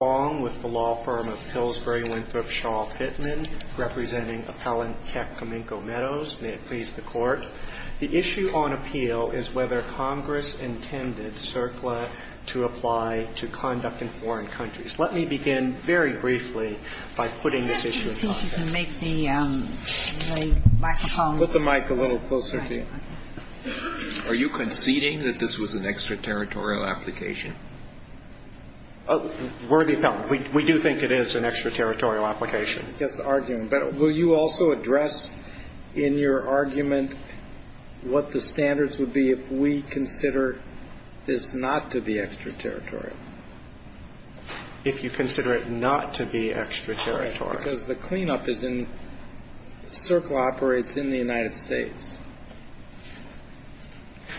The issue on appeal is whether Congress intended CERCLA to apply to conduct in foreign countries. Let me begin very briefly by putting this issue in context. Are you conceding that this was an extraterritorial application? Worthy of comment. We do think it is an extraterritorial application. That's the argument. But will you also address in your argument what the standards would be if we consider this not to be extraterritorial? If you consider it not to be extraterritorial. Because the cleanup is in CERCLA operates in the United States.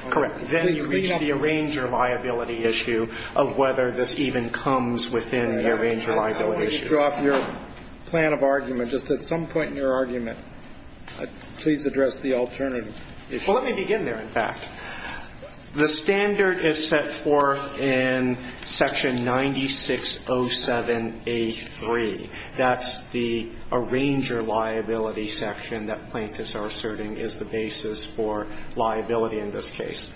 Correct. Then you reach the arranger liability issue of whether this even comes within the arranger liability issue. I don't want to drop your plan of argument. Just at some point in your argument, please address the alternative issue. Well, let me begin there, in fact. The standard is set forth in Section 9607A3. That's the arranger liability section that plaintiffs are asserting is the basis for liability in this case.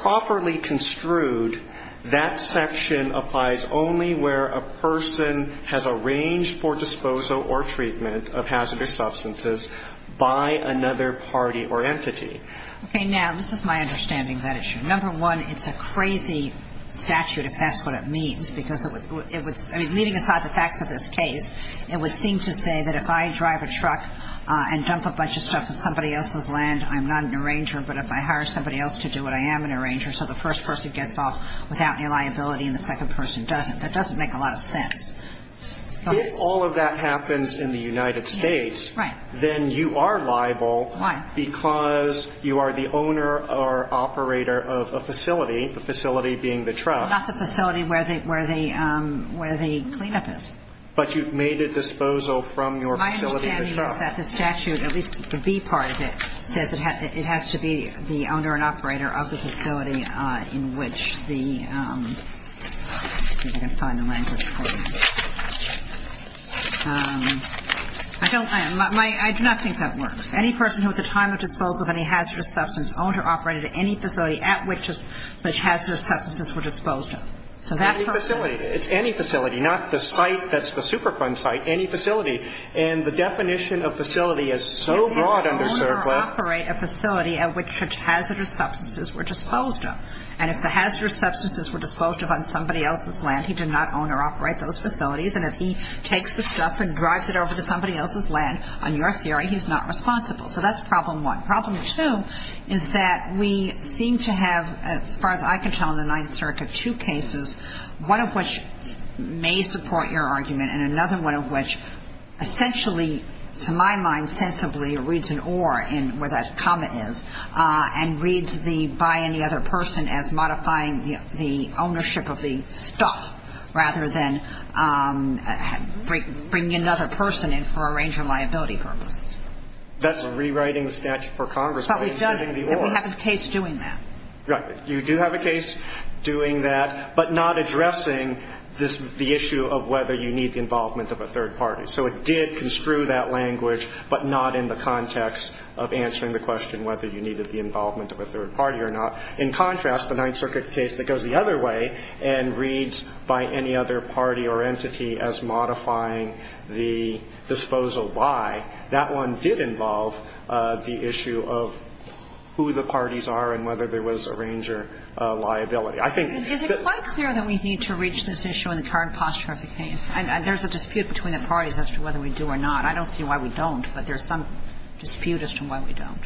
Properly construed, that section applies only where a person has arranged for disposal or treatment of hazardous substances by another party or entity. Okay. Now, this is my understanding of that issue. Number one, it's a crazy statute, if that's what it means. Because it would – I mean, leaving aside the facts of this case, it would seem to say that if I drive a truck and dump a bunch of stuff in somebody else's land, I'm not an arranger, but if I hire somebody else to do it, I am an arranger. So the first person gets off without any liability and the second person doesn't. That doesn't make a lot of sense. If all of that happens in the United States, then you are liable. Why? Because you are the owner or operator of a facility, the facility being the truck. Not the facility where the – where the clean-up is. But you've made a disposal from your facility, the truck. My understanding is that the statute, at least the B part of it, says it has to be the owner and operator of the facility in which the – let's see if I can find the language for you. I don't – I do not think that works. Any person who at the time of disposal of any hazardous substance owned or operated any facility at which hazardous substances were disposed of. So that person – Any facility. It's any facility, not the site that's the Superfund site. Any facility. And the definition of facility is so broad under CERCLA – He did not own or operate a facility at which hazardous substances were disposed of. And if the hazardous substances were disposed of on somebody else's land, he did not own or operate those facilities. And if he takes the stuff and drives it over to somebody else's land, on your theory, he's not responsible. So that's problem one. Problem two is that we seem to have, as far as I can tell in the Ninth Circuit, two cases, one of which may support your argument. And another one of which essentially, to my mind, sensibly reads an or in where that comma is. And reads the by any other person as modifying the ownership of the stuff rather than bringing another person in for a range of liability purposes. That's rewriting the statute for Congress by instituting the or. But we have a case doing that. You do have a case doing that, but not addressing the issue of whether you need the involvement of a third party. So it did construe that language, but not in the context of answering the question whether you needed the involvement of a third party or not. In contrast, the Ninth Circuit case that goes the other way and reads by any other party or entity as modifying the disposal by, that one did involve the issue of who the parties are and whether there was a range of liability. I think that the ---- Kagan. Is it quite clear that we need to reach this issue in the current posture of the case? And there's a dispute between the parties as to whether we do or not. I don't see why we don't, but there's some dispute as to why we don't.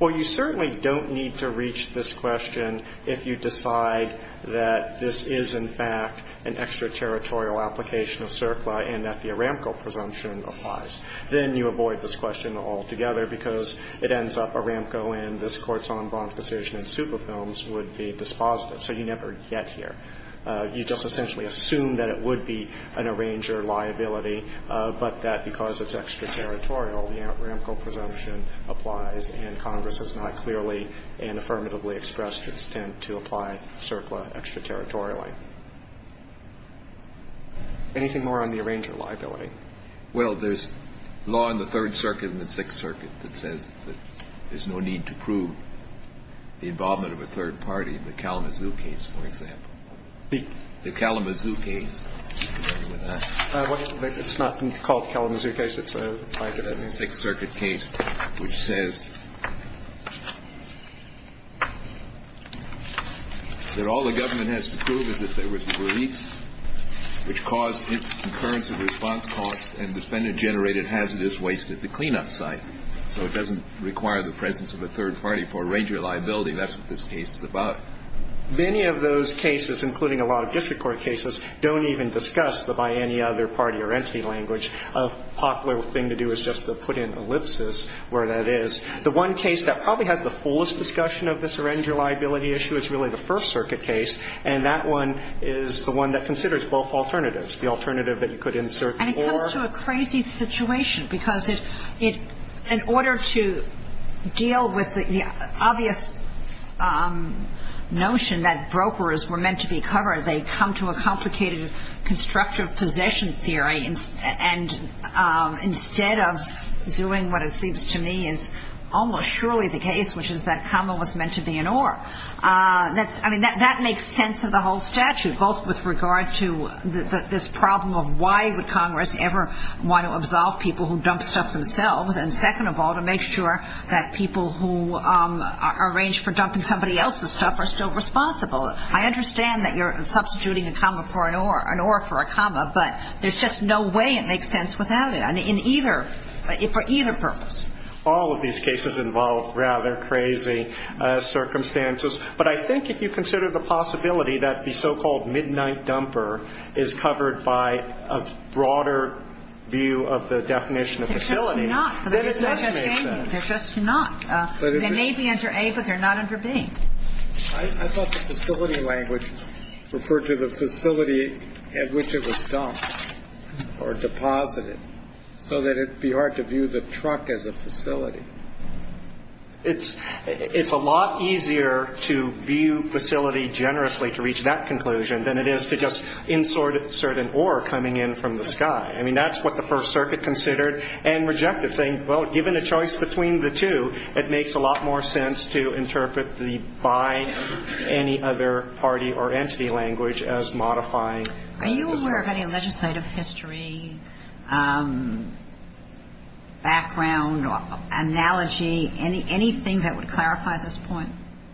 Well, you certainly don't need to reach this question if you decide that this is in fact an extraterritorial application of CERCLA and that the Aramco presumption applies. Then you avoid this question altogether because it ends up Aramco and this Court's en banc decision in Superfilms would be dispositive. So you never get here. You just essentially assume that it would be an Arranger liability, but that because it's extraterritorial, the Aramco presumption applies and Congress has not clearly and affirmatively expressed its intent to apply CERCLA extraterritorially. Anything more on the Arranger liability? Well, there's law in the Third Circuit and the Sixth Circuit that says that there's no need to prove the involvement of a third party in the Kalamazoo case, for example. The Kalamazoo case. It's not called the Kalamazoo case. It's a Sixth Circuit case which says that all the government has to prove is that there is a third party in the Kalamazoo case. So it's not a case of dispositive, it's a case of dispositive response costs and defendant generated hazardous waste at the cleanup site. So it doesn't require the presence of a third party for Arranger liability. That's what this case is about. Many of those cases, including a lot of district court cases, don't even discuss the by any other party or entity language. A popular thing to do is just put in ellipsis where that is. The one case that probably has the fullest discussion of the Arranger liability issue is really the First Circuit case, and that one is the one that considers both alternatives. The alternative that you could insert for ---- And it comes to a crazy situation because it, in order to deal with the obvious notion that brokers were meant to be covered, they come to a complicated constructive possession theory. And instead of doing what it seems to me is almost surely the case, which is that comma was meant to be an or. I mean, that makes sense of the whole statute, both with regard to this problem of why would Congress ever want to absolve people who dump stuff themselves, and second of all, to make sure that people who are arranged for dumping somebody else's stuff are still responsible. I understand that you're substituting a comma for an or, an or for a comma, but there's just no way it makes sense without it for either purpose. All of these cases involve rather crazy circumstances. But I think if you consider the possibility that the so-called midnight dumper is covered by a broader view of the definition of facility, then it does make sense. They're just not. They may be under A, but they're not under B. I thought the facility language referred to the facility at which it was dumped or deposited, so that it would be hard to view the truck as a facility. It's a lot easier to view facility generously to reach that conclusion than it is to just insert an or coming in from the sky. I mean, that's what the First Circuit considered and rejected, saying, well, given the choice between the two, it makes a lot more sense to interpret the by any other party or entity language as modifying. Are you aware of any legislative history, background, analogy, anything that would clarify this point?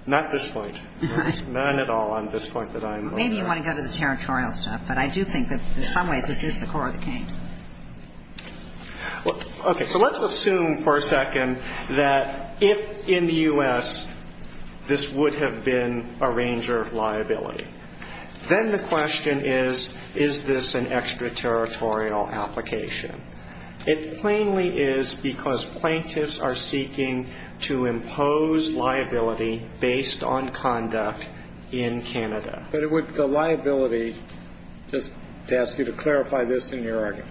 Not this point. None at all on this point that I'm aware of. Maybe you want to go to the territorial stuff. Okay. So let's assume for a second that if in the U.S. this would have been a ranger liability, then the question is, is this an extraterritorial application? It plainly is because plaintiffs are seeking to impose liability based on conduct in Canada. But the liability, just to ask you to clarify this in your argument,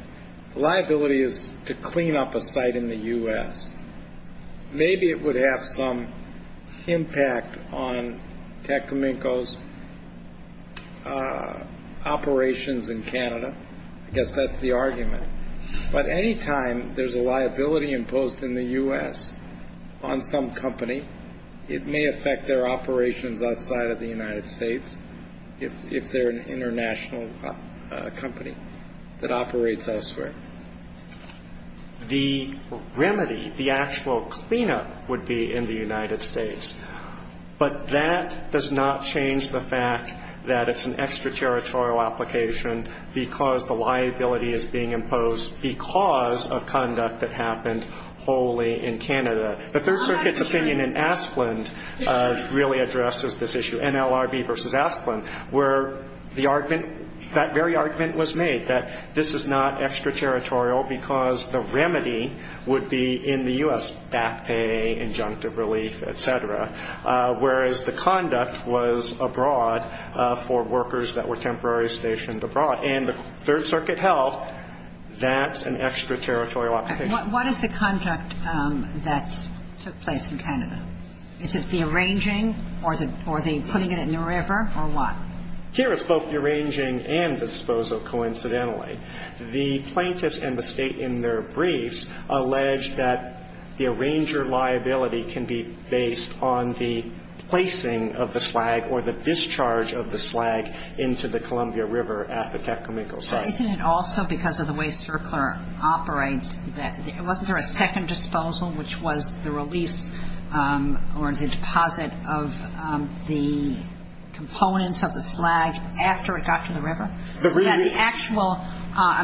the liability is to clean up a site in the U.S. Maybe it would have some impact on Tecumseh's operations in Canada. I guess that's the argument. But any time there's a liability imposed in the U.S. on some company, it may affect their operations outside of the United States if they're an international company that operates elsewhere. The remedy, the actual cleanup would be in the United States. But that does not change the fact that it's an extraterritorial application because the liability is being imposed because of conduct that happened wholly in Canada. The Third Circuit's opinion in Asplund really addresses this issue, NLRB versus Asplund, where the argument, that very argument was made, that this is not extraterritorial because the remedy would be in the U.S., back pay, injunctive relief, et cetera, whereas the conduct was abroad for workers that were temporarily stationed abroad. And the Third Circuit held that's an extraterritorial application. And what is the conduct that took place in Canada? Is it the arranging or the putting it in the river or what? Here it's both the arranging and disposal, coincidentally. The plaintiffs and the State in their briefs allege that the arranger liability can be based on the placing of the slag or the discharge of the slag into the Columbia River at the Tecumseh. So isn't it also because of the way CERCLR operates that wasn't there a second disposal which was the release or the deposit of the components of the slag after it got to the river?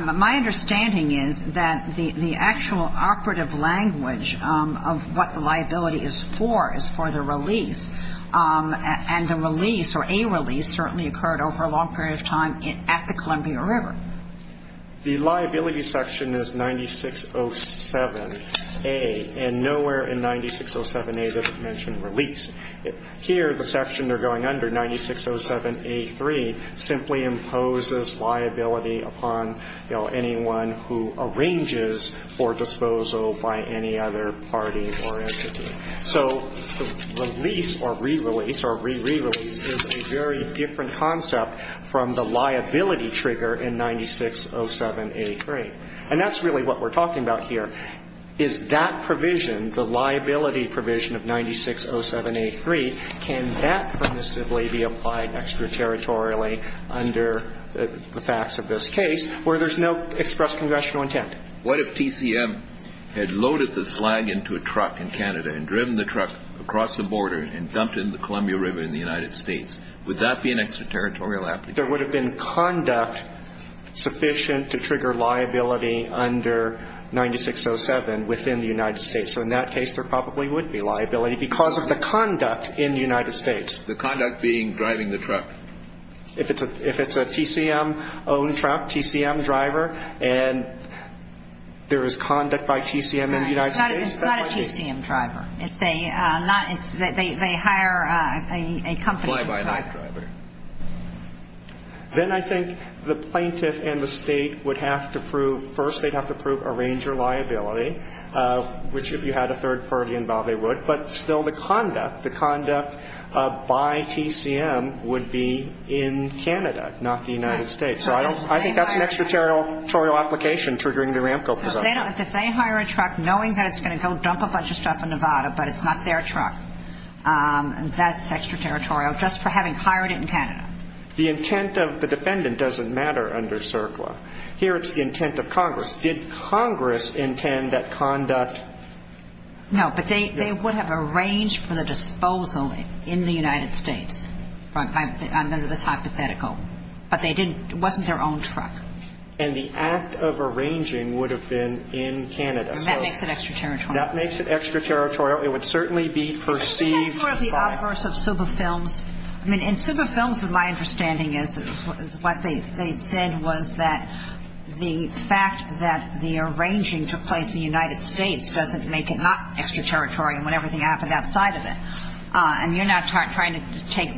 My understanding is that the actual operative language of what the liability is for is for the release. And the release or a release certainly occurred over a long period of time at the Columbia River. The liability section is 9607A. And nowhere in 9607A does it mention release. Here, the section they're going under, 9607A3, simply imposes liability upon, you know, anyone who arranges for disposal by any other party or entity. So release or re-release or re-re-release is a very different concept from the liability trigger in 9607A3. And that's really what we're talking about here. Is that provision, the liability provision of 9607A3, can that permissively be applied extraterritorially under the facts of this case where there's no express congressional intent? What if TCM had loaded the slag into a truck in Canada and driven the truck across the border and dumped it in the Columbia River in the United States? Would that be an extraterritorial application? There would have been conduct sufficient to trigger liability under 9607 within the United States. So in that case, there probably would be liability because of the conduct in the United States. The conduct being driving the truck. If it's a TCM-owned truck, TCM driver, and there is conduct by TCM in the United States, that might be. It's not a TCM driver. They hire a company driver. Then I think the plaintiff and the state would have to prove, first, they'd have to prove arranger liability, which if you had a third party involved, they would. But still, the conduct, the conduct by TCM would be in Canada, not the United States. So I think that's an extraterritorial application triggering the RAMCO presumption. If they hire a truck knowing that it's going to go dump a bunch of stuff in Nevada, but it's not their truck, that's extraterritorial. Just for having hired it in Canada. The intent of the defendant doesn't matter under CERCLA. Here it's the intent of Congress. Did Congress intend that conduct? No. But they would have arranged for the disposal in the United States. I'm going to do this hypothetical. But they didn't. It wasn't their own truck. And the act of arranging would have been in Canada. And that makes it extraterritorial. That makes it extraterritorial. It would certainly be perceived by. I think that's part of the obverse of super films. In super films, my understanding is what they said was that the fact that the arranging took place in the United States doesn't make it not extraterritorial when everything happened outside of it. And you're now trying to take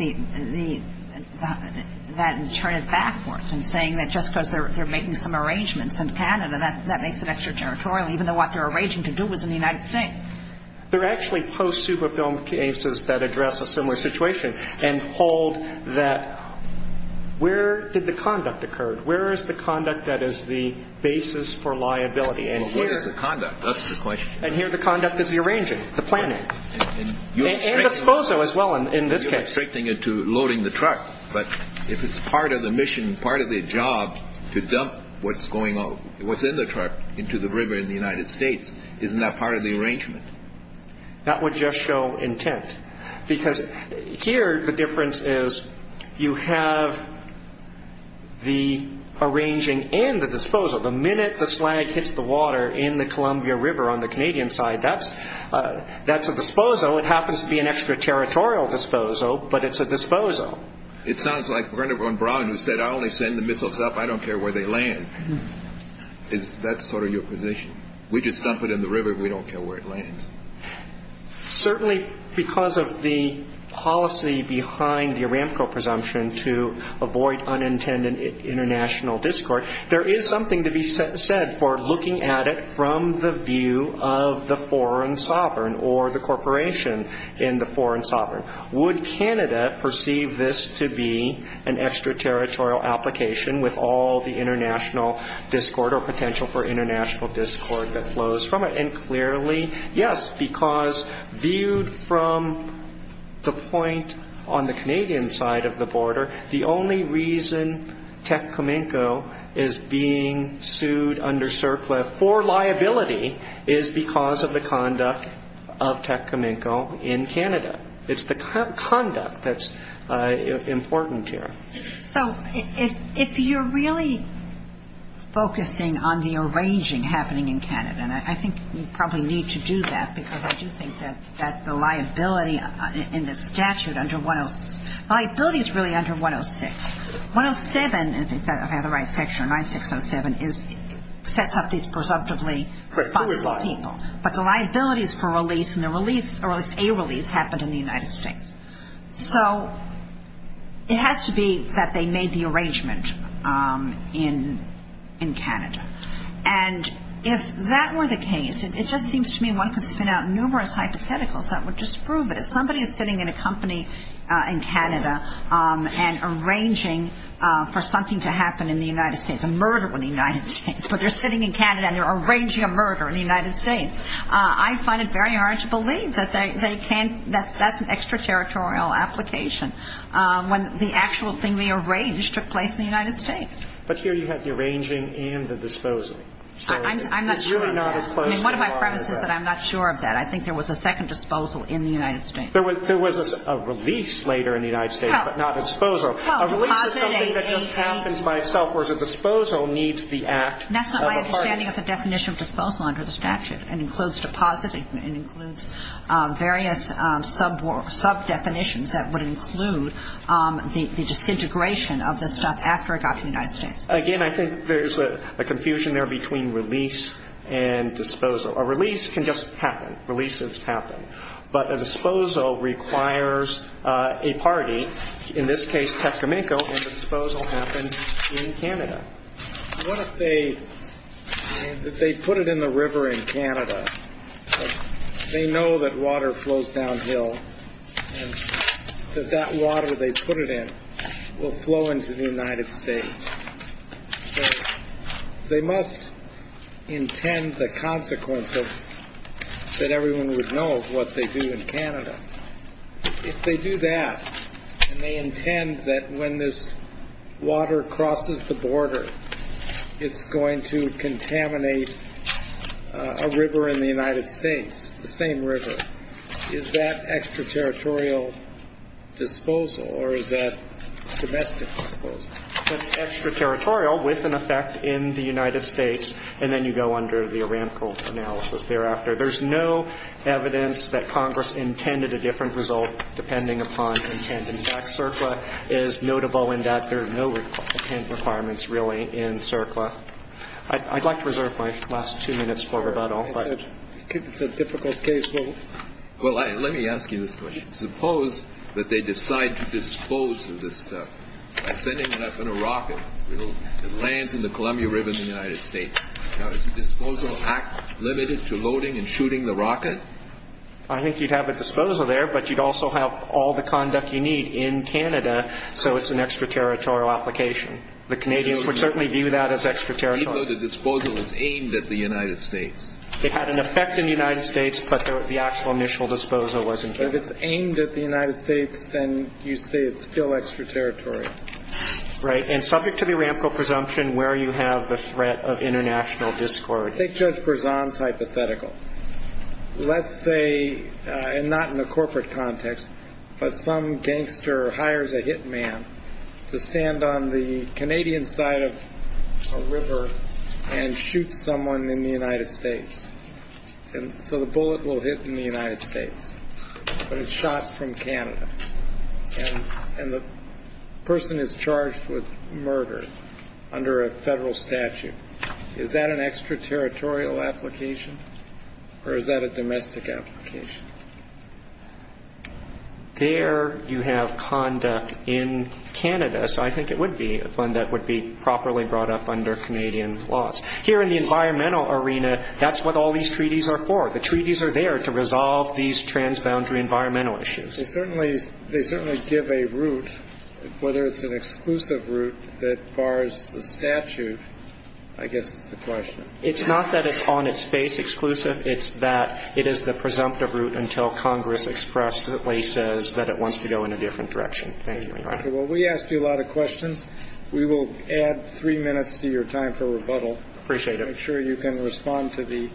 that and turn it backwards and saying that just because they're making some arrangements in Canada, that makes it extraterritorial, even though what they're arranging to do was in the United States. There are actually post-super film cases that address a similar situation and hold that where did the conduct occur? Where is the conduct that is the basis for liability? Well, what is the conduct? That's the question. And here the conduct is the arranging, the planning. And the disposal as well in this case. You're restricting it to loading the truck. But if it's part of the mission, part of the job to dump what's going on, what's in the truck into the river in the United States, isn't that part of the arrangement? That would just show intent. Because here the difference is you have the arranging and the disposal. The minute the slag hits the water in the Columbia River on the Canadian side, that's a disposal. It happens to be an extraterritorial disposal, but it's a disposal. It sounds like Bernard von Braun who said, I only send the missiles up, I don't care where they land. That's sort of your position. We just dump it in the river, we don't care where it lands. Certainly because of the policy behind the Aramco presumption to avoid unintended international discord, there is something to be said for looking at it from the view of the foreign sovereign or the corporation in the foreign sovereign. Would Canada perceive this to be an extraterritorial application with all the international discord or potential for international discord that flows from it? And clearly, yes, because viewed from the point on the Canadian side of the border, the only reason Techcominco is being sued under surplus for liability is because of the conduct of Techcominco in Canada. It's the conduct that's important here. So if you're really focusing on the arranging happening in Canada, and I think we probably need to do that because I do think that the liability in the statute under 106, liability is really under 106. 107, if I have the right section, 9607, sets up these presumptively responsible people. But the liabilities for release and the release, or at least a release, happened in the United States. So it has to be that they made the arrangement in Canada. And if that were the case, it just seems to me one could spin out numerous hypotheticals that would disprove it. If somebody is sitting in a company in Canada and arranging for something to happen in the United States, a murder in the United States, but they're sitting in Canada and they're arranging a murder in the United States, I find it very hard to believe that that's an extraterritorial application when the actual thing they arranged took place in the United States. But here you have the arranging and the disposal. I'm not sure of that. And one of my premises is that I'm not sure of that. I think there was a second disposal in the United States. There was a release later in the United States, but not a disposal. A release is something that just happens by itself, whereas a disposal needs the act of a party. It's not standing as a definition of disposal under the statute. It includes deposit. It includes various sub-definitions that would include the disintegration of the stuff after it got to the United States. Again, I think there's a confusion there between release and disposal. A release can just happen. Releases happen. But a disposal requires a party, in this case Tecumseh, and the disposal happened in Canada. What if they put it in the river in Canada? They know that water flows downhill and that that water they put it in will flow into the United States. They must intend the consequence that everyone would know of what they do in Canada. If they do that and they intend that when this water crosses the border, it's going to contaminate a river in the United States, the same river, is that extraterritorial disposal or is that domestic disposal? That's extraterritorial with an effect in the United States, and then you go under the Aramco analysis thereafter. There's no evidence that Congress intended a different result depending upon intent. In fact, CERCLA is notable in that there are no intent requirements really in CERCLA. I'd like to reserve my last two minutes for rebuttal. It's a difficult case. Well, let me ask you this question. Suppose that they decide to dispose of this stuff by sending it up in a rocket. It lands in the Columbia River in the United States. Now, is the disposal act limited to loading and shooting the rocket? I think you'd have a disposal there, but you'd also have all the conduct you need in Canada, so it's an extraterritorial application. The Canadians would certainly view that as extraterritorial. Even though the disposal is aimed at the United States. It had an effect in the United States, but the actual initial disposal was in Canada. But if it's aimed at the United States, then you say it's still extraterritorial. Right. And subject to the rampant presumption, where you have the threat of international discord? I think Judge Berzon's hypothetical. Let's say, and not in the corporate context, but some gangster hires a hitman to stand on the Canadian side of a river and shoot someone in the United States. And so the bullet will hit in the United States, but it's shot from Canada. And the person is charged with murder under a federal statute. Is that an extraterritorial application, or is that a domestic application? There you have conduct in Canada, so I think it would be one that would be properly brought up under Canadian laws. Here in the environmental arena, that's what all these treaties are for. The treaties are there to resolve these transboundary environmental issues. They certainly give a route, whether it's an exclusive route that bars the statute, I guess is the question. It's not that it's on its face exclusive. It's that it is the presumptive route until Congress expressly says that it wants to go in a different direction. Thank you, Your Honor. Well, we asked you a lot of questions. We will add three minutes to your time for rebuttal. Appreciate it. Make sure you can respond to the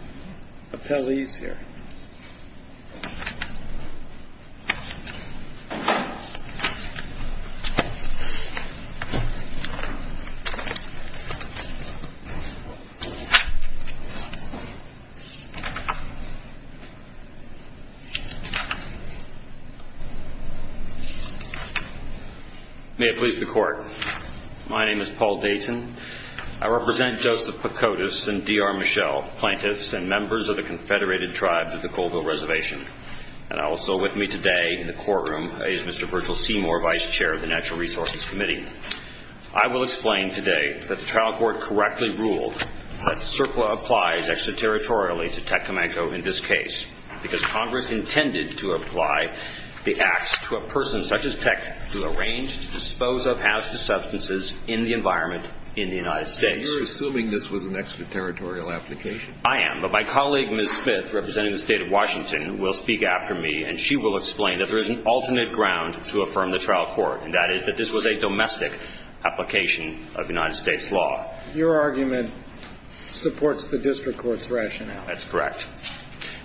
appellees here. Thank you. May it please the Court. My name is Paul Dayton. I represent Joseph Pocotas and D.R. Michelle, plaintiffs and members of the Confederated Tribes of the Colville Reservation. And also with me today in the courtroom is Mr. Virgil Seymour, vice chair of the Natural Resources Committee. I will explain today that the trial court correctly ruled that CERCLA applies extraterritorially to Tecumseh in this case because Congress intended to apply the acts to a person such as Tec who arranged to dispose of hazardous substances in the environment in the United States. And you're assuming this was an extraterritorial application? I am. But my colleague, Ms. Smith, representing the State of Washington, will speak after me, and she will explain that there is an alternate ground to affirm the trial court, and that is that this was a domestic application of United States law. Your argument supports the district court's rationale. That's correct.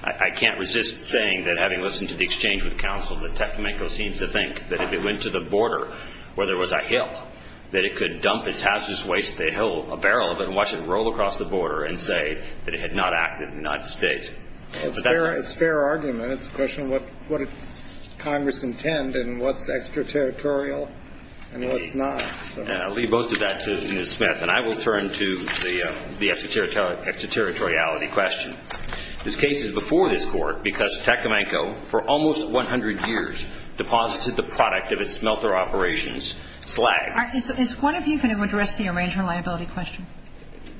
I can't resist saying that having listened to the exchange with counsel, that Tecumseh seems to think that if it went to the border where there was a hill, that it could dump its hazardous waste at the hill, a barrel of it, and watch it roll across the border and say that it had not acted in the United States. It's a fair argument. It's a question of what Congress intend and what's extraterritorial and what's not. And I'll leave both of that to Ms. Smith. And I will turn to the extraterritoriality question. This case is before this Court because Tecumseh, for almost 100 years, deposited the product of its smelter operations, slag. Is one of you going to address the arrangement liability question?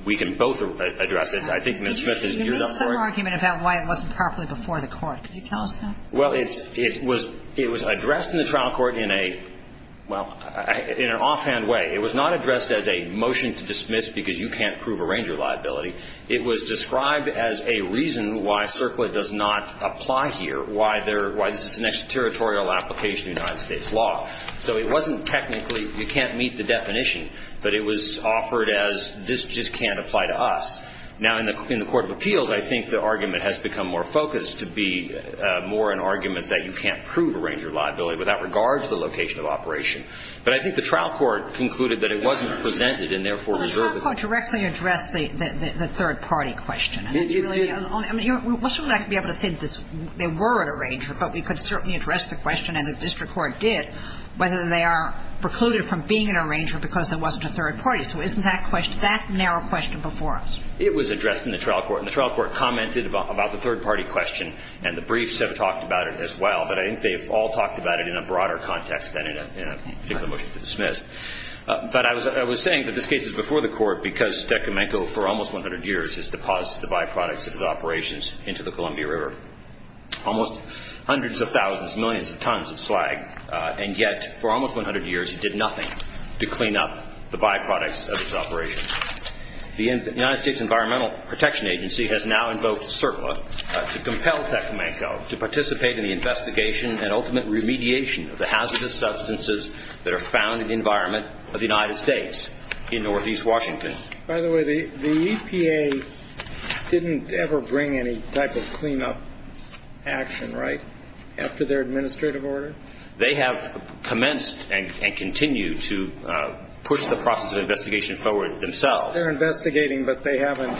We can both address it. I think Ms. Smith is geared up for it. You made some argument about why it wasn't properly before the Court. Could you tell us that? Well, it was addressed in the trial court in a, well, in an offhand way. It was not addressed as a motion to dismiss because you can't prove arranger liability. It was described as a reason why CERCLA does not apply here, why this is an extraterritorial application of United States law. So it wasn't technically, you can't meet the definition, but it was offered as this just can't apply to us. Now, in the court of appeals, I think the argument has become more focused to be more an argument that you can't prove arranger liability without regard to the location of operation. But I think the trial court concluded that it wasn't presented and, therefore, reserved it. Well, the trial court directly addressed the third-party question. And that's really the only, I mean, we wouldn't be able to say that they were an arranger, but we could certainly address the question, and the district court did, whether they are precluded from being an arranger because there wasn't a third party. So isn't that question, that narrow question before us? It was addressed in the trial court. And the trial court commented about the third-party question, and the briefs have talked about it as well. But I think they've all talked about it in a broader context than in a particular motion to dismiss. But I was saying that this case is before the Court because DeComenco for almost 100 years has deposited the byproducts of his operations into the Columbia River. Almost hundreds of thousands, millions of tons of slag. And yet, for almost 100 years, he did nothing to clean up the byproducts of his operations. The United States Environmental Protection Agency has now invoked CERPA to compel DeComenco to participate in the investigation and ultimate remediation of the hazardous substances that are found in the environment of the United States in northeast Washington. By the way, the EPA didn't ever bring any type of cleanup action, right, after their administrative order? They have commenced and continue to push the process of investigation forward themselves. They're investigating, but they haven't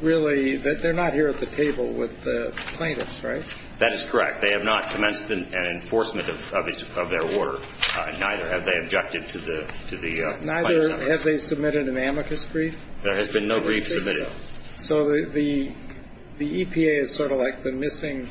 really – they're not here at the table with the plaintiffs, right? That is correct. They have not commenced an enforcement of their order, and neither have they objected to the plaintiffs' efforts. Neither have they submitted an amicus brief? There has been no brief submitted. So the EPA is sort of like the missing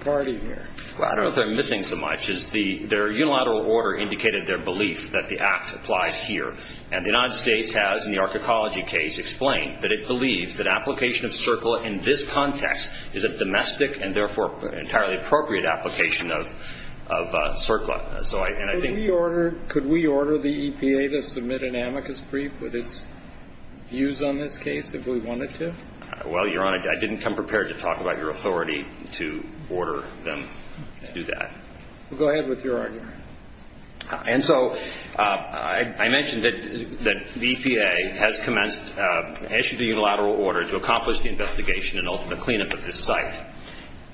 party here. Well, I don't know if they're missing so much. Their unilateral order indicated their belief that the act applies here. And the United States has, in the archaecology case, explained that it believes that application of CERCLA in this context is a domestic and therefore entirely appropriate application of CERCLA. Could we order the EPA to submit an amicus brief with its views on this case if we wanted to? Well, Your Honor, I didn't come prepared to talk about your authority to order them to do that. Well, go ahead with your argument. And so I mentioned that the EPA has commenced – issued a unilateral order to accomplish the investigation and ultimate cleanup of this site.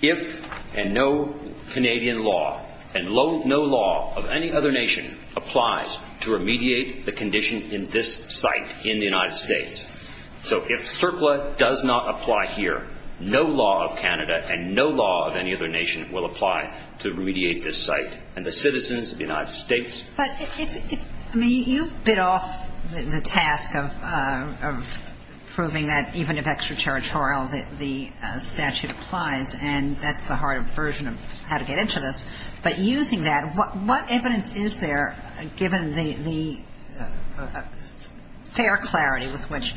If and no Canadian law and no law of any other nation applies to remediate the condition in this site in the United States. So if CERCLA does not apply here, no law of Canada and no law of any other nation will apply to remediate this site. And the citizens of the United States – But if – I mean, you've bit off the task of proving that even if extraterritorial the statute applies, and that's the harder version of how to get into this. But using that, what evidence is there, given the fair clarity with which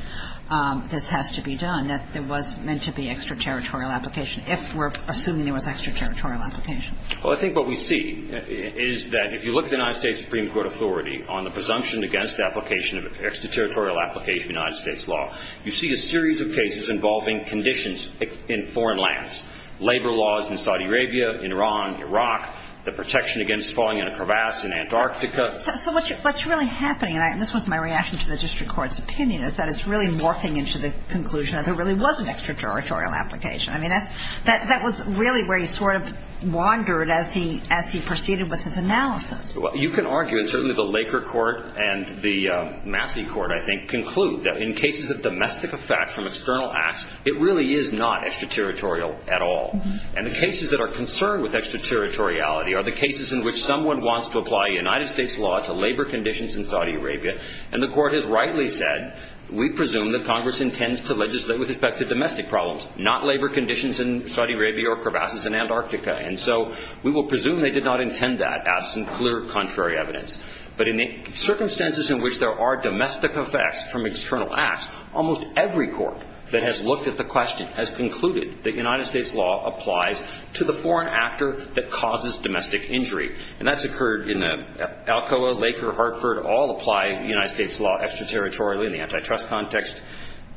this has to be done, that there was meant to be extraterritorial application, if we're assuming there was extraterritorial application? Well, I think what we see is that if you look at the United States Supreme Court authority on the presumption against application of extraterritorial application of United States law, you see a series of cases involving conditions in foreign lands. Labor laws in Saudi Arabia, Iran, Iraq, the protection against falling in a crevasse in Antarctica. So what's really happening, and this was my reaction to the district court's opinion, is that it's really morphing into the conclusion that there really was an extraterritorial application. I mean, that was really where you sort of wandered as he proceeded with his analysis. Well, you can argue, and certainly the Laker court and the Massey court, I think, conclude that in cases of domestic effect from external acts, it really is not extraterritorial at all. And the cases that are concerned with extraterritoriality are the cases in which someone wants to apply United States law to labor conditions in Saudi Arabia, and the court has rightly said, we presume that Congress intends to legislate with respect to domestic problems, not labor conditions in Saudi Arabia or crevasses in Antarctica. And so we will presume they did not intend that, absent clear contrary evidence. But in the circumstances in which there are domestic effects from external acts, almost every court that has looked at the question has concluded that United States law applies to the foreign actor that causes domestic injury. And that's occurred in Alcoa, Laker, Hartford, all apply United States law extraterritorially in the antitrust context.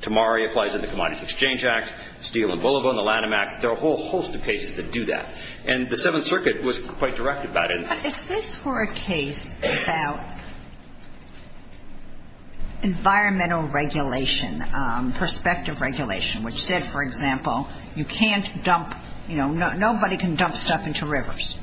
Tamari applies in the Commodities Exchange Act. Steele and Boulobo in the Lanham Act. There are a whole host of cases that do that. And the Seventh Circuit was quite direct about it. But if this were a case about environmental regulation, perspective regulation, which said, for example, you can't dump, you know, nobody can dump stuff into rivers,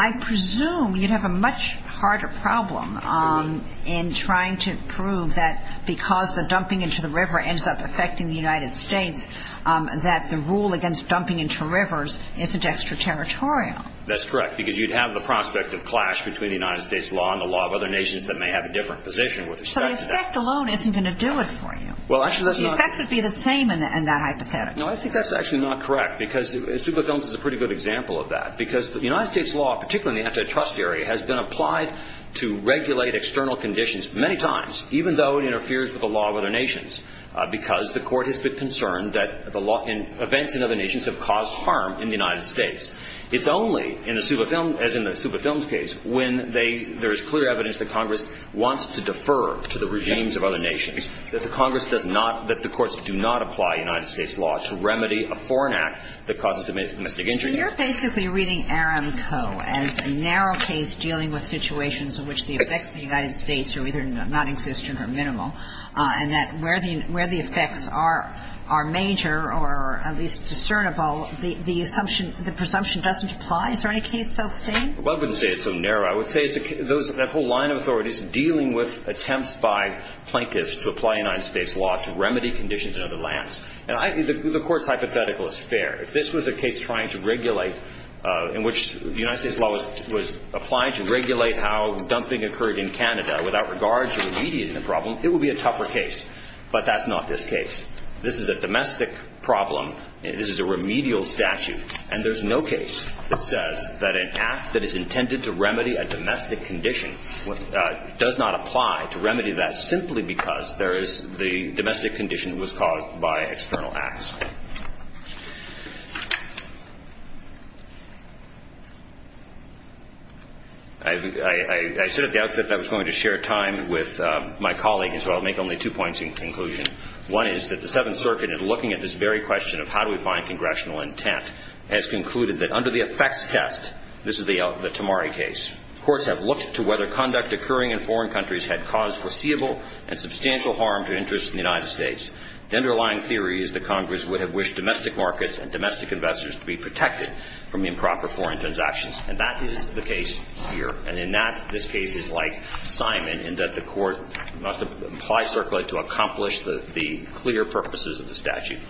I presume you'd have a much harder problem in trying to prove that because the dumping into the river ends up affecting the United States, that the rule against dumping into rivers isn't extraterritorial. That's correct, because you'd have the prospect of clash between United States law and the law of other nations that may have a different position with respect to that. So the effect alone isn't going to do it for you. Well, actually that's not. The effect would be the same in that hypothetical. No, I think that's actually not correct, because Zucca films is a pretty good example of that. Because the United States law, particularly in the antitrust area, has been applied to regulate external conditions many times, even though it interferes with the law of other nations, because the court has been concerned that the law and events in other nations have caused harm in the United States. It's only, as in the Zucca films case, when there is clear evidence that Congress wants to defer to the regimes of other nations, that the Congress does not, that the courts do not apply United States law to remedy a foreign act that causes domestic injury. So you're basically reading Aramco as a narrow case dealing with situations in which the effects of the United States are either nonexistent or minimal, and that where the effects are major or at least discernible, the assumption, the presumption doesn't apply. Is there any case so stained? Well, I wouldn't say it's so narrow. I would say it's that whole line of authorities dealing with attempts by plaintiffs to apply United States law to remedy conditions in other lands. And the Court's hypothetical is fair. If this was a case trying to regulate, in which the United States law was applied to regulate how dumping occurred in Canada without regard to remediation of the problem, it would be a tougher case. But that's not this case. This is a domestic problem. This is a remedial statute. And there's no case that says that an act that is intended to remedy a domestic condition does not apply to remedy that simply because there is the domestic condition that was caused by external acts. I sort of doubted that I was going to share time with my colleague, and so I'll make only two points in conclusion. One is that the Seventh Circuit, in looking at this very question of how do we find congressional intent, has concluded that under the effects test, this is the Tamari case, courts have looked to whether conduct occurring in foreign countries had caused foreseeable and substantial harm to interests in the United States. The underlying theory is that Congress would have wished domestic markets and domestic investors to be protected from improper foreign transactions. And that is the case here. And in that, this case is like Simon, in that the Court must apply Circulate to accomplish the clear purposes of the statute.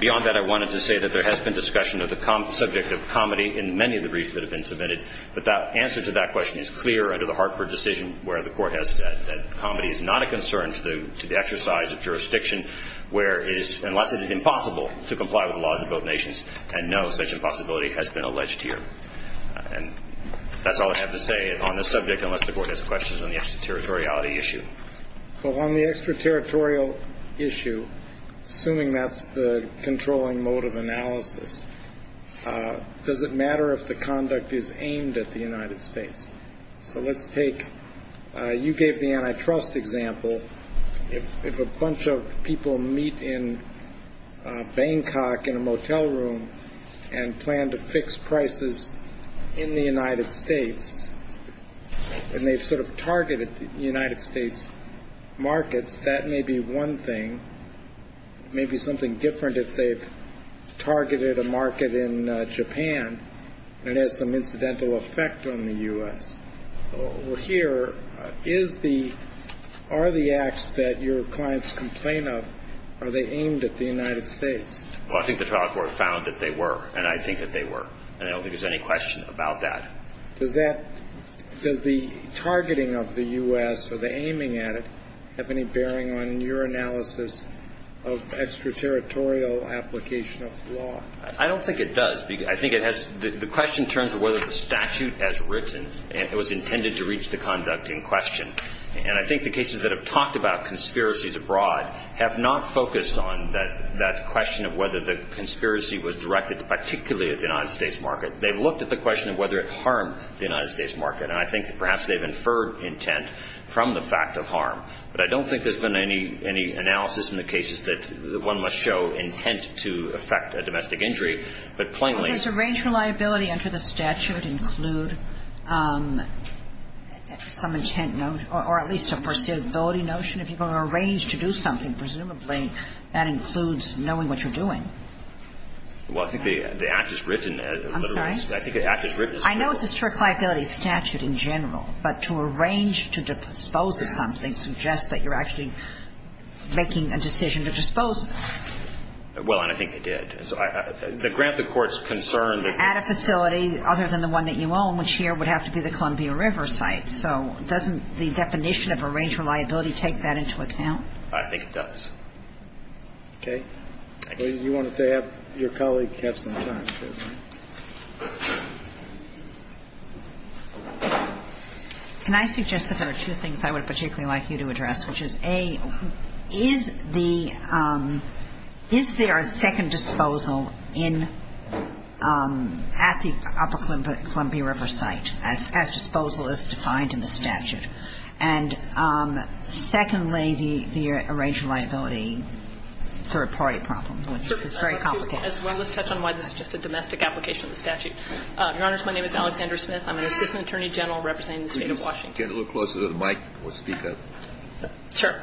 Beyond that, I wanted to say that there has been discussion of the subject of comedy in many of the briefs that have been submitted, but the answer to that question is clear under the Hartford decision, where the Court has said that comedy is not a concern to the exercise of jurisdiction unless it is impossible to comply with the laws of both nations, and no such impossibility has been alleged here. And that's all I have to say on this subject, unless the Court has questions on the extraterritoriality issue. Well, on the extraterritorial issue, assuming that's the controlling mode of analysis, does it matter if the conduct is aimed at the United States? So let's take you gave the antitrust example. If a bunch of people meet in Bangkok in a motel room and plan to fix prices in the United States, and they've sort of targeted the United States markets, that may be one thing. It may be something different if they've targeted a market in Japan and it has some incidental effect on the U.S. Here, are the acts that your clients complain of, are they aimed at the United States? Well, I think the trial court found that they were, and I think that they were. And I don't think there's any question about that. Does the targeting of the U.S. or the aiming at it have any bearing on your analysis of extraterritorial application of the law? I don't think it does. I think the question in terms of whether the statute has written and it was intended to reach the conduct in question, and I think the cases that have talked about conspiracies abroad have not focused on that question of whether the conspiracy was directed particularly at the United States market. They've looked at the question of whether it harmed the United States market, and I think perhaps they've inferred intent from the fact of harm. But I don't think there's been any analysis in the cases that one must show intent to affect a domestic injury. But plainly – But does arranged reliability under the statute include some intent note or at least a foreseeability notion? If you're going to arrange to do something, presumably that includes knowing what you're doing. Well, I think the act is written. I'm sorry? I think the act is written. I know it's a strict liability statute in general, but to arrange to dispose of something suggests that you're actually making a decision to dispose of it. Well, and I think they did. The grant, the court's concerned that – At a facility other than the one that you own, which here would have to be the Columbia River site. So doesn't the definition of arranged reliability take that into account? I think it does. Okay. Well, you wanted to have your colleague have some time. And secondly, the arranged reliability third-party problem, which is very complicated. Let's touch on why this is just a domestic application of the statute. Your Honors, my name is Alexandra Smith. I'm an assistant attorney general representing the State of Washington. Please get a little closer to the mic, or speak up. I'm an assistant attorney general representing the State of Washington. Sure.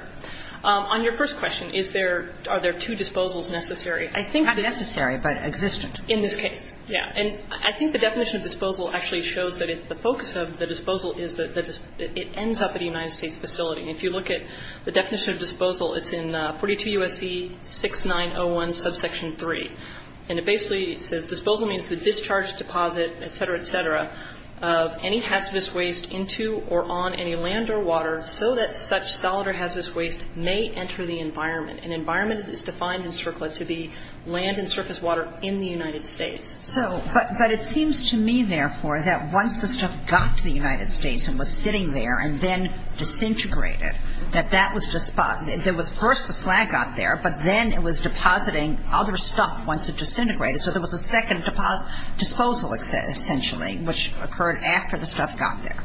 On your first question, is there – are there two disposals necessary? Not necessary, but existent. In this case, yeah. And I think the definition of disposal actually shows that the focus of the disposal is that it ends up at a United States facility. And if you look at the definition of disposal, it's in 42 U.S.C. 6901 subsection 3. And it basically says, Disposal means the discharge, deposit, et cetera, et cetera, of any hazardous waste into or on any land or water so that such solid or hazardous waste may enter the environment. An environment is defined in CERCLA to be land and surface water in the United States. So, but it seems to me, therefore, that once the stuff got to the United States and was sitting there and then disintegrated, that that was – there was first the slag got there, but then it was depositing other stuff once it disintegrated. So there was a second disposal, essentially, which occurred after the stuff got there.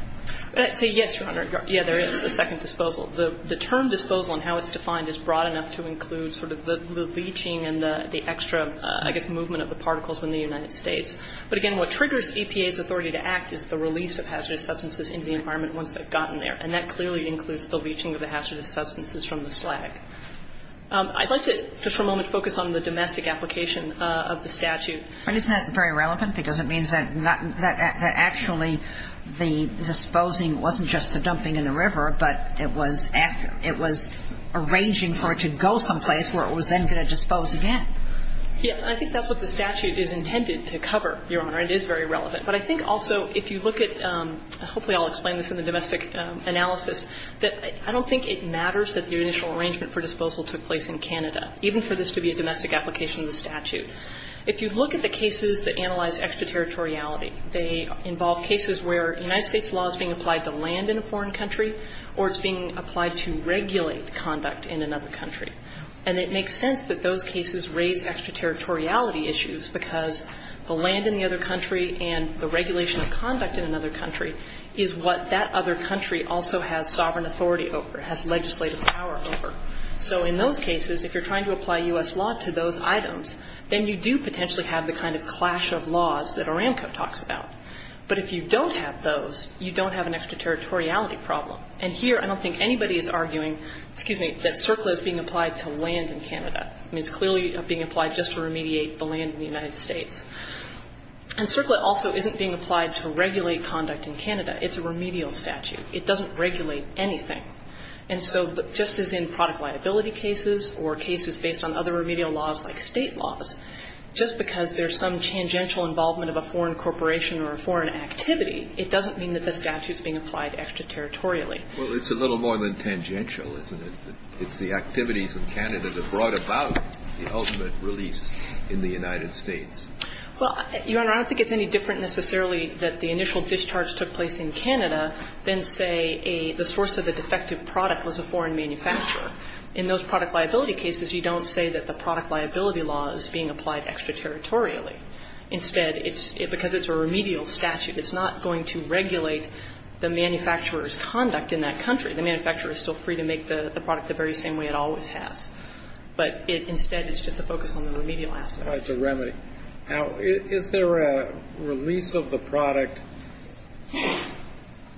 Say, yes, Your Honor. Yeah, there is a second disposal. The term disposal and how it's defined is broad enough to include sort of the leaching and the extra, I guess, movement of the particles in the United States. But, again, what triggers EPA's authority to act is the release of hazardous substances into the environment once they've gotten there. And that clearly includes the leaching of the hazardous substances from the slag. I'd like to for a moment focus on the domestic application of the statute. But isn't that very relevant? Because it means that actually the disposing wasn't just the dumping in the river, but it was after – it was arranging for it to go someplace where it was then going to dispose again. Yes. And I think that's what the statute is intended to cover, Your Honor. It is very relevant. And it's a very important analysis that I don't think it matters that the initial arrangement for disposal took place in Canada, even for this to be a domestic application of the statute. If you look at the cases that analyze extraterritoriality, they involve cases where United States law is being applied to land in a foreign country or it's being applied to regulate conduct in another country. And it makes sense that those cases raise extraterritoriality issues because the land in the other country and the regulation of conduct in another country is what that other country also has sovereign authority over, has legislative power over. So in those cases, if you're trying to apply U.S. law to those items, then you do potentially have the kind of clash of laws that Aramco talks about. But if you don't have those, you don't have an extraterritoriality problem. And here I don't think anybody is arguing, excuse me, that CERCLA is being applied to land in Canada. I mean, it's clearly being applied just to remediate the land in the United States. It's a remedial statute. It doesn't regulate anything. And so just as in product liability cases or cases based on other remedial laws like State laws, just because there's some tangential involvement of a foreign corporation or a foreign activity, it doesn't mean that the statute is being applied extraterritorially. Well, it's a little more than tangential, isn't it? It's the activities in Canada that brought about the ultimate release in the United States. Well, Your Honor, I don't think it's any different necessarily that the initial discharge took place in Canada than, say, the source of the defective product was a foreign manufacturer. In those product liability cases, you don't say that the product liability law is being applied extraterritorially. Instead, it's because it's a remedial statute. It's not going to regulate the manufacturer's conduct in that country. The manufacturer is still free to make the product the very same way it always has. But instead, it's just a focus on the remedial aspect. It's a remedy. Is there a release of the product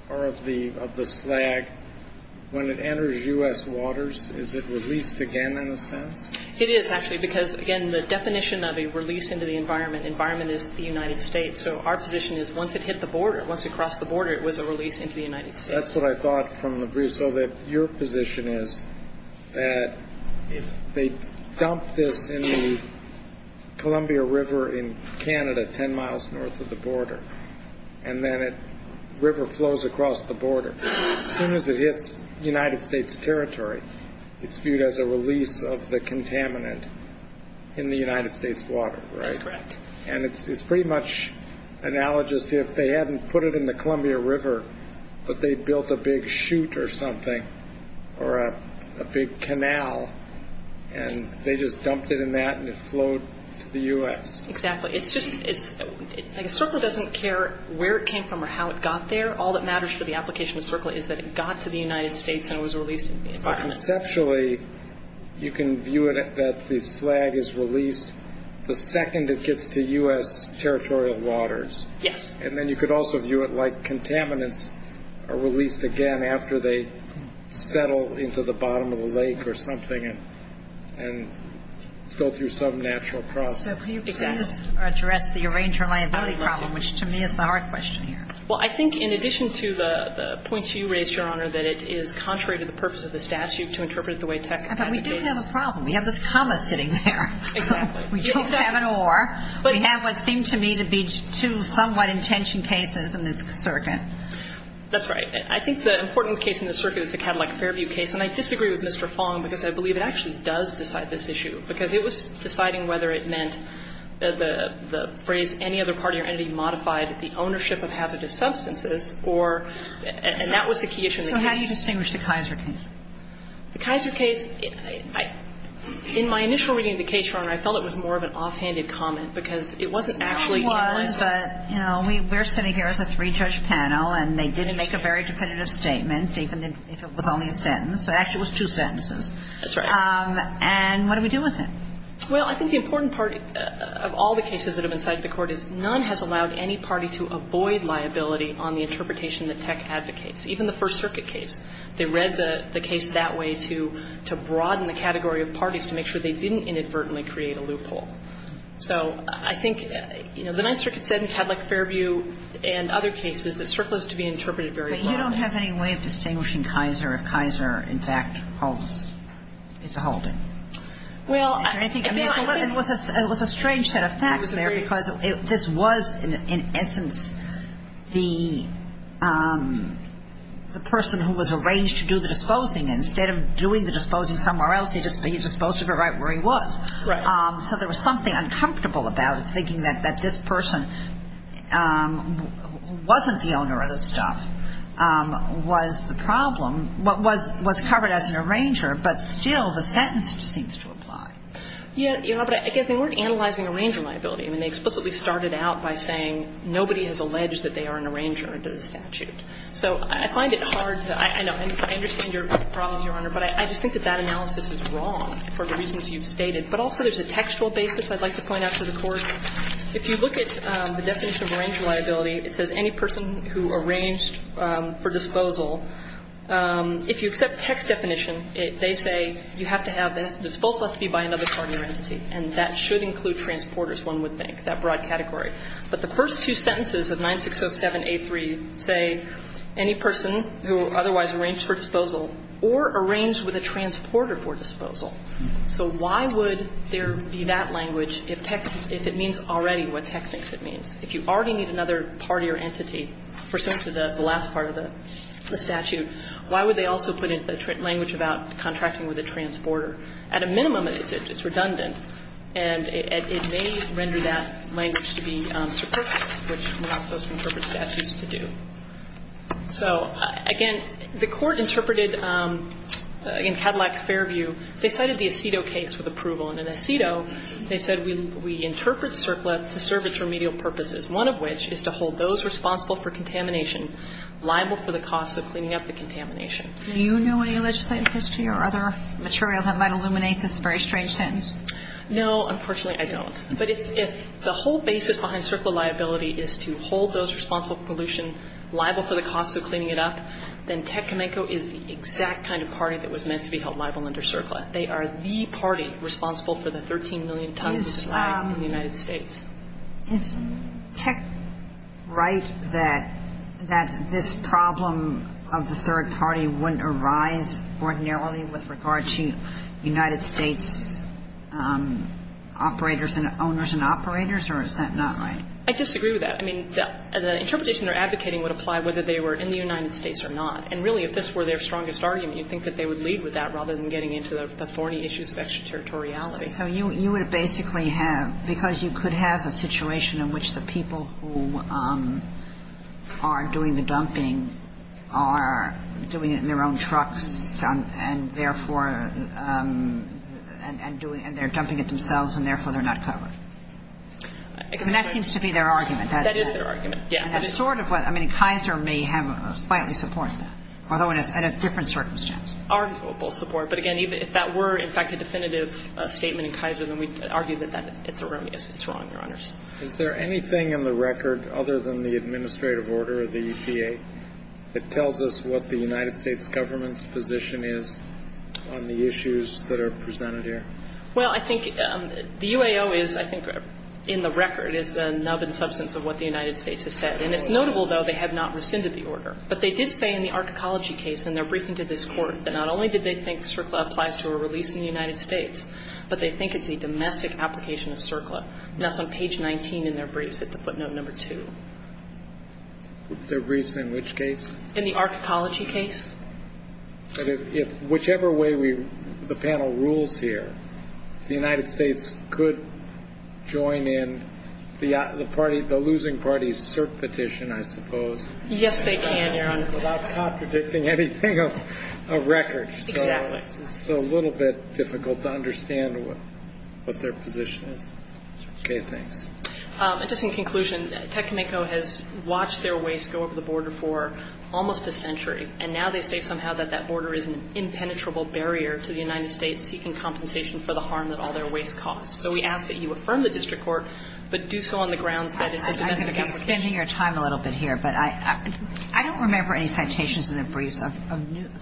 or of the slag when it enters U.S. waters? Is it released again in a sense? It is, actually, because, again, the definition of a release into the environment is the United States. So our position is once it hit the border, once it crossed the border, it was a release into the United States. That's what I thought from the brief. So your position is that if they dump this in the Columbia River in Canada, 10 miles north of the border, and then a river flows across the border, as soon as it hits United States territory, it's viewed as a release of the contaminant in the United States water, right? That's correct. And it's pretty much analogous to if they hadn't put it in the Columbia River, but they built a big chute or something or a big canal, and they just dumped it in that and it flowed to the U.S. Exactly. It's just like a circle doesn't care where it came from or how it got there. All that matters for the application of a circle is that it got to the United States and it was released into the environment. So conceptually, you can view it that the slag is released the second it gets to U.S. territorial waters. Yes. And then you could also view it like contaminants are released again after they settle into the bottom of the lake or something and go through some natural process. So can you please address the arranged reliability problem, which to me is the hard question here? Well, I think in addition to the points you raised, Your Honor, that it is contrary to the purpose of the statute to interpret it the way tech advocates. But we do have a problem. We have this comma sitting there. Exactly. We don't have an or. We have what seemed to me to be two somewhat intentioned cases in this circuit. That's right. I think the important case in this circuit is the Cadillac Fairview case. And I disagree with Mr. Fong because I believe it actually does decide this issue because it was deciding whether it meant the phrase any other party or entity modified the ownership of hazardous substances or and that was the key issue. So how do you distinguish the Kaiser case? The Kaiser case, in my initial reading of the case, Your Honor, I felt it was more of an offhanded comment because it wasn't actually. It was, but, you know, we're sitting here as a three-judge panel and they didn't make a very definitive statement, even if it was only a sentence. It actually was two sentences. That's right. And what do we do with it? Well, I think the important part of all the cases that have been cited in the Court is none has allowed any party to avoid liability on the interpretation that tech advocates, even the First Circuit case. They read the case that way to broaden the category of parties to make sure they didn't inadvertently create a loophole. So I think, you know, the Ninth Circuit said in Cadillac-Fairview and other cases that surplus is to be interpreted very broadly. But you don't have any way of distinguishing Kaiser if Kaiser, in fact, holds, is a holding. Well, I think. It was a strange set of facts there because this was, in essence, the person who was arranged to do the disposing, and instead of doing the disposing somewhere else, he just disposed of it right where he was. Right. So there was something uncomfortable about it, thinking that this person wasn't the owner of the stuff was the problem, was covered as an arranger, but still the sentence seems to apply. Yeah. But I guess they weren't analyzing arranger liability. I mean, they explicitly started out by saying nobody has alleged that they are an arranger under the statute. So I find it hard to – I know. I understand your problems, Your Honor, but I just think that that analysis is wrong for the reasons you've stated. But also there's a textual basis I'd like to point out to the Court. If you look at the definition of arranger liability, it says any person who arranged for disposal, if you accept the text definition, they say you have to have the disposal has to be by another partner entity, and that should include transporters, one would think, that broad category. But the first two sentences of 9607A3 say any person who otherwise arranged for disposal or arranged with a transporter for disposal. So why would there be that language if text – if it means already what text it means? If you already need another party or entity pursuant to the last part of the statute, why would they also put in a language about contracting with a transporter? At a minimum, it's redundant. And it may render that language to be surplus, which we're not supposed to interpret statutes to do. So, again, the Court interpreted in Cadillac Fairview, they cited the Acido case with approval. And in Acido, they said we interpret surplus to serve its remedial purposes, one of which is to hold those responsible for contamination liable for the cost of cleaning up the contamination. Do you know any legislative history or other material that might illuminate this very strange sentence? No. Unfortunately, I don't. But if the whole basis behind surplus liability is to hold those responsible for pollution liable for the cost of cleaning it up, then Tecumseh is the exact kind of party that was meant to be held liable under surplus. They are the party responsible for the 13 million tons of slag in the United States. Is Tec right that this problem of the third party wouldn't arise ordinarily with regard to United States operators and owners and operators, or is that not right? I disagree with that. I mean, the interpretation they're advocating would apply whether they were in the United States or not. And really, if this were their strongest argument, you'd think that they would lead with that rather than getting into the thorny issues of extraterritoriality. So you would basically have, because you could have a situation in which the people who are doing the dumping are doing it in their own trucks and therefore and they're dumping it themselves and therefore they're not covered. I mean, that seems to be their argument. That is their argument. Yeah. I mean, sort of. I mean, Kaiser may have slightly supported that, although in a different circumstance. Our people support. But, again, even if that were, in fact, a definitive statement in Kaiser, then we'd argue that it's erroneous. It's wrong, Your Honors. Is there anything in the record other than the administrative order of the EPA that tells us what the United States government's position is on the issues that are presented here? Well, I think the UAO is, I think, in the record is the nub and substance of what the United States has said. And it's notable, though, they have not rescinded the order. But they did say in the archecology case in their briefing to this Court that not only did they think CERCLA applies to a release in the United States, but they think it's a domestic application of CERCLA. And that's on page 19 in their briefs at the footnote number two. Their briefs in which case? In the archecology case. But if whichever way the panel rules here, the United States could join in the losing party's CERC petition, I suppose. Yes, they can, Your Honor. Without contradicting anything of record. Exactly. It's a little bit difficult to understand what their position is. Okay. Thanks. And just in conclusion, Tecumseh has watched their waste go over the border for almost a century. And now they say somehow that that border is an impenetrable barrier to the United States seeking compensation for the harm that all their waste caused. So we ask that you affirm the district court, but do so on the grounds that it's a domestic application. I'm going to be spending your time a little bit here, but I don't remember any citations in their briefs of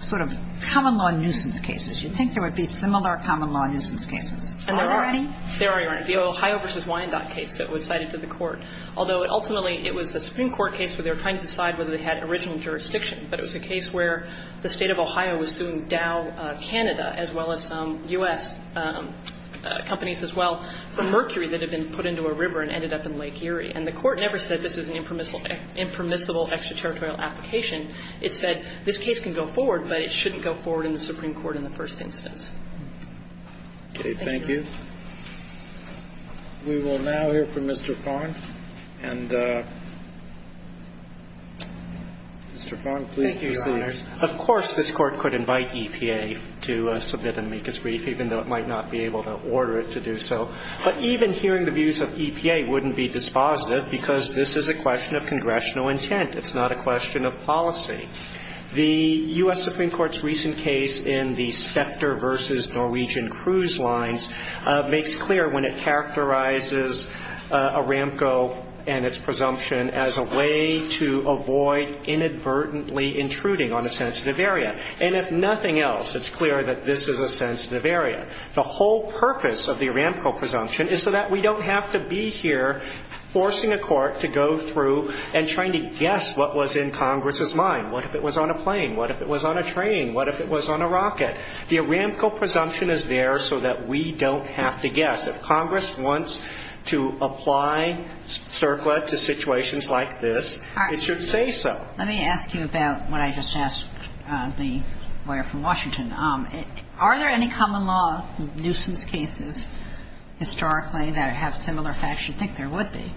sort of common-law nuisance cases. You'd think there would be similar common-law nuisance cases. Are there any? There are, Your Honor. The Ohio v. Wyandotte case that was cited to the court. Although, ultimately, it was a Supreme Court case where they were trying to decide whether they had original jurisdiction. But it was a case where the State of Ohio was suing Dow Canada, as well as some U.S. companies as well, for mercury that had been put into a river and ended up in Lake Erie. And the court never said this is an impermissible extraterritorial application. It said this case can go forward, but it shouldn't go forward in the Supreme Court in the first instance. Thank you. Thank you. We will now hear from Mr. Farn. And, Mr. Farn, please proceed. Thank you, Your Honors. Of course, this Court could invite EPA to submit and make its brief, even though it might not be able to order it to do so. But even hearing the views of EPA wouldn't be dispositive, because this is a question of congressional intent. It's not a question of policy. The U.S. Supreme Court's recent case in the Specter v. Norwegian Cruise Lines makes clear when it characterizes Aramco and its presumption as a way to avoid inadvertently intruding on a sensitive area. And if nothing else, it's clear that this is a sensitive area. The whole purpose of the Aramco presumption is so that we don't have to be here forcing a court to go through and trying to guess what was in Congress's mind. What if it was on a plane? What if it was on a train? What if it was on a rocket? The Aramco presumption is there so that we don't have to guess. If Congress wants to apply CERCLA to situations like this, it should say so. Let me ask you about what I just asked the lawyer from Washington. Are there any common law nuisance cases historically that have similar facts? I should think there would be.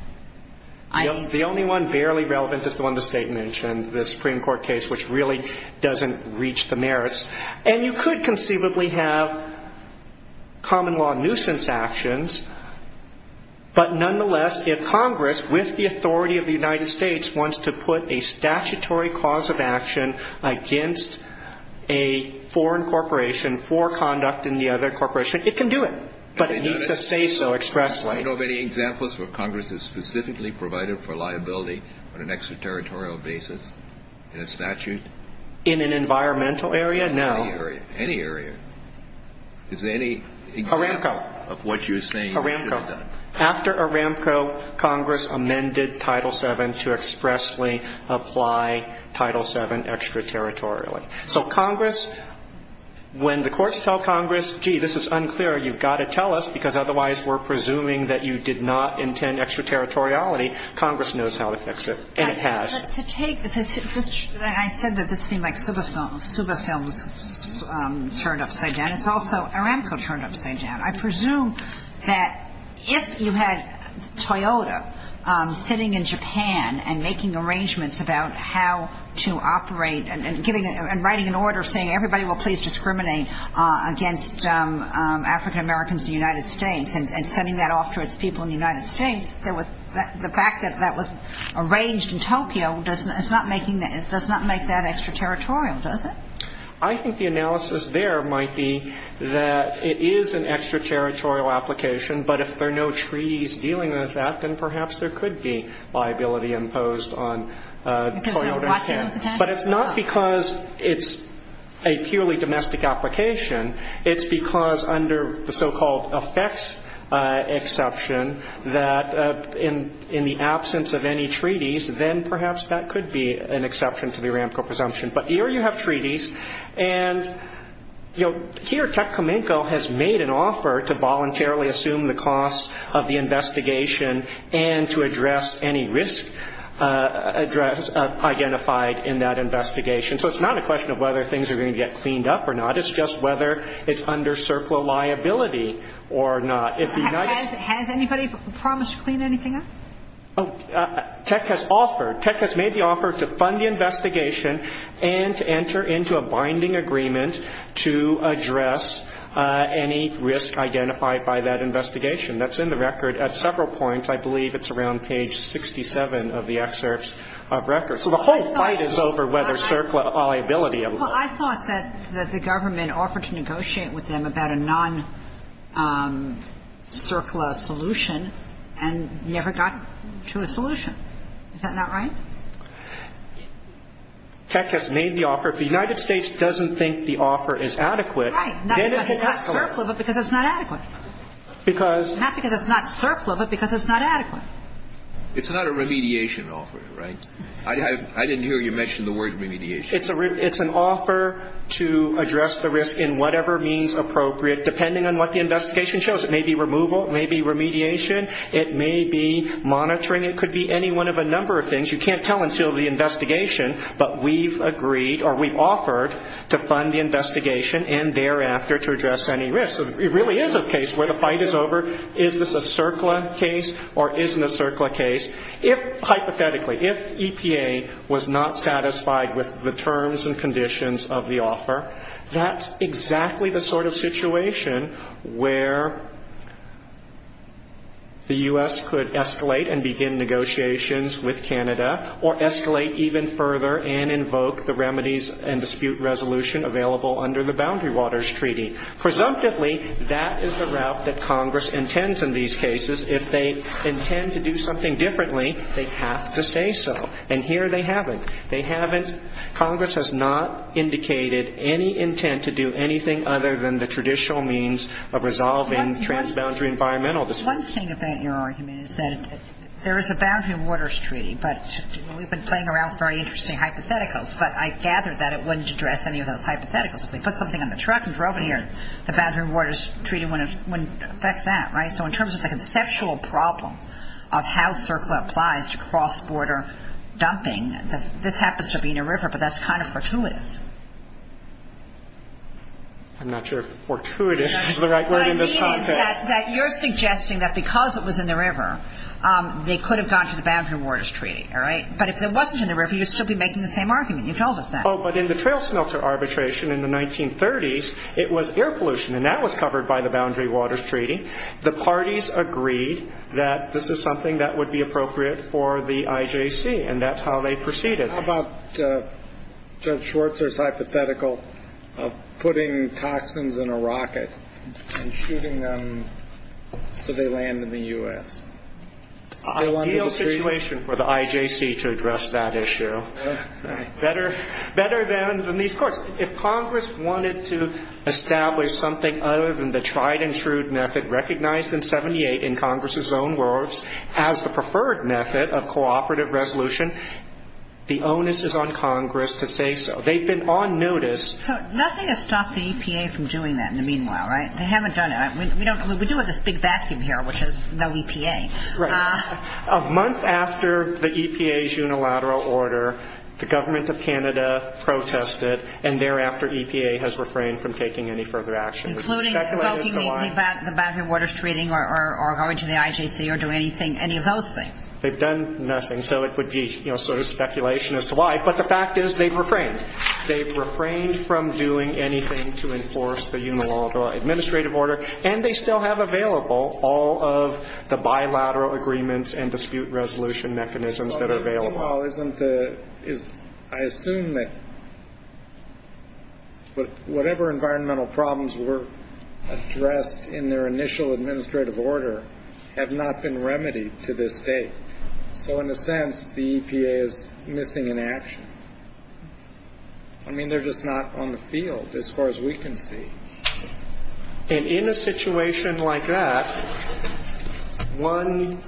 The only one barely relevant is the one the State mentioned, the Supreme Court case which really doesn't reach the merits. And you could conceivably have common law nuisance actions, but nonetheless if Congress with the authority of the United States wants to put a statutory cause of action against a foreign corporation for conduct in the other corporation, it can do it. But it needs to say so expressly. Do you know of any examples where Congress has specifically provided for liability on an extraterritorial basis in a statute? In an environmental area? No. Any area. Is there any example of what you're saying? Aramco. After Aramco, Congress amended Title VII to expressly apply Title VII extraterritorially. So Congress, when the courts tell Congress, gee, this is unclear, you've got to tell us, because otherwise we're presuming that you did not intend extraterritoriality, Congress knows how to fix it. And it has. But to take this, I said that this seemed like Suba Films turned upside down. It's also Aramco turned upside down. I presume that if you had Toyota sitting in Japan and making arrangements about how to operate and writing an order saying, everybody will please discriminate against African-Americans in the United States and sending that off to its people in the United States, the fact that that was arranged in Tokyo does not make that extraterritorial, does it? I think the analysis there might be that it is an extraterritorial application, but if there are no treaties dealing with that, then perhaps there could be liability imposed on Toyota Japan. But it's not because it's a purely domestic application. It's because under the so-called effects exception that in the absence of any treaties, then perhaps that could be an exception to the Aramco presumption. But here you have treaties, and here Chuck Kamenko has made an offer to voluntarily assume the costs of the investigation and to address any risk identified in that investigation. So it's not a question of whether things are going to get cleaned up or not. It's just whether it's under CERCLA liability or not. Has anybody promised to clean anything up? Tech has made the offer to fund the investigation and to enter into a binding agreement to address any risk identified by that investigation. That's in the record at several points. I believe it's around page 67 of the excerpts of record. So the whole fight is over whether CERCLA liability. Well, I thought that the government offered to negotiate with them about a non-CERCLA solution and never got to a solution. Is that not right? Tech has made the offer. If the United States doesn't think the offer is adequate, then it has to work. Right, not because it's not CERCLA, but because it's not adequate. Not because it's not CERCLA, but because it's not adequate. It's not a remediation offer, right? I didn't hear you mention the word remediation. It's an offer to address the risk in whatever means appropriate, depending on what the investigation shows. It may be removal. It may be remediation. It may be monitoring. It could be any one of a number of things. You can't tell until the investigation, but we've agreed or we've offered to fund the investigation and thereafter to address any risk. It really is a case where the fight is over. Is this a CERCLA case or isn't a CERCLA case? Hypothetically, if EPA was not satisfied with the terms and conditions of the offer, that's exactly the sort of situation where the U.S. could escalate and begin negotiations with Canada or escalate even further and invoke the remedies and dispute resolution available under the Boundary Waters Treaty. Presumptively, that is the route that Congress intends in these cases. If they intend to do something differently, they have to say so. And here they haven't. They haven't. Congress has not indicated any intent to do anything other than the traditional means of resolving transboundary environmental disputes. One thing about your argument is that there is a Boundary Waters Treaty, but we've been playing around with very interesting hypotheticals, but I gather that it wouldn't address any of those hypotheticals. If they put something on the truck and drove it here, the Boundary Waters Treaty wouldn't affect that, right? So in terms of the conceptual problem of how CERCLA applies to cross-border dumping, this happens to be in a river, but that's kind of fortuitous. I'm not sure if fortuitous is the right word in this context. What I mean is that you're suggesting that because it was in the river, they could have gone to the Boundary Waters Treaty, all right? But if it wasn't in the river, you'd still be making the same argument. You told us that. Oh, but in the trail smelter arbitration in the 1930s, it was air pollution, and that was covered by the Boundary Waters Treaty. The parties agreed that this is something that would be appropriate for the IJC, and that's how they proceeded. How about Judge Schwarzer's hypothetical of putting toxins in a rocket and shooting them so they land in the U.S.? It's an ideal situation for the IJC to address that issue. Better than these courts. If Congress wanted to establish something other than the tried-and-true method recognized in 78 in Congress's own words as the preferred method of cooperative resolution, the onus is on Congress to say so. They've been on notice. So nothing has stopped the EPA from doing that in the meanwhile, right? They haven't done it. We deal with this big vacuum here, which is no EPA. Right. A month after the EPA's unilateral order, the government of Canada protested, and thereafter EPA has refrained from taking any further action. Including invoking the Boundary Waters Treaty or going to the IJC or doing any of those things? They've done nothing, so it would be sort of speculation as to why, but the fact is they've refrained. They've refrained from doing anything to enforce the unilateral administrative order. And they still have available all of the bilateral agreements and dispute resolution mechanisms that are available. But the meanwhile isn't the ñ I assume that whatever environmental problems were addressed in their initial administrative order have not been remedied to this day. So in a sense, the EPA is missing in action. I mean, they're just not on the field as far as we can see. And in a situation like that, one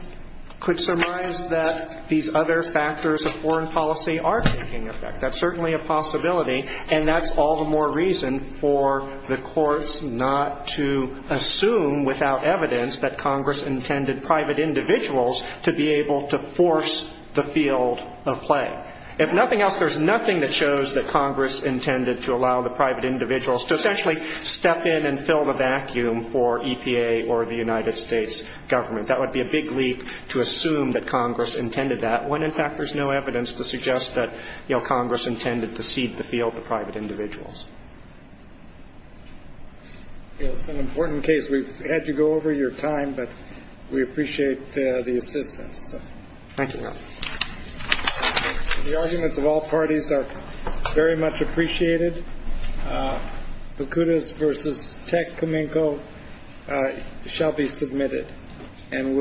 could surmise that these other factors of foreign policy are taking effect. That's certainly a possibility. And that's all the more reason for the courts not to assume without evidence that Congress intended private individuals to be able to force the field of play. If nothing else, there's nothing that shows that Congress intended to allow the private individuals to essentially step in and fill the vacuum for EPA or the United States government. That would be a big leak to assume that Congress intended that when, in fact, there's no evidence to suggest that Congress intended to cede the field to private individuals. It's an important case. We've had to go over your time, but we appreciate the assistance. Thank you. The arguments of all parties are very much appreciated. Bakudas versus Techcominco shall be submitted.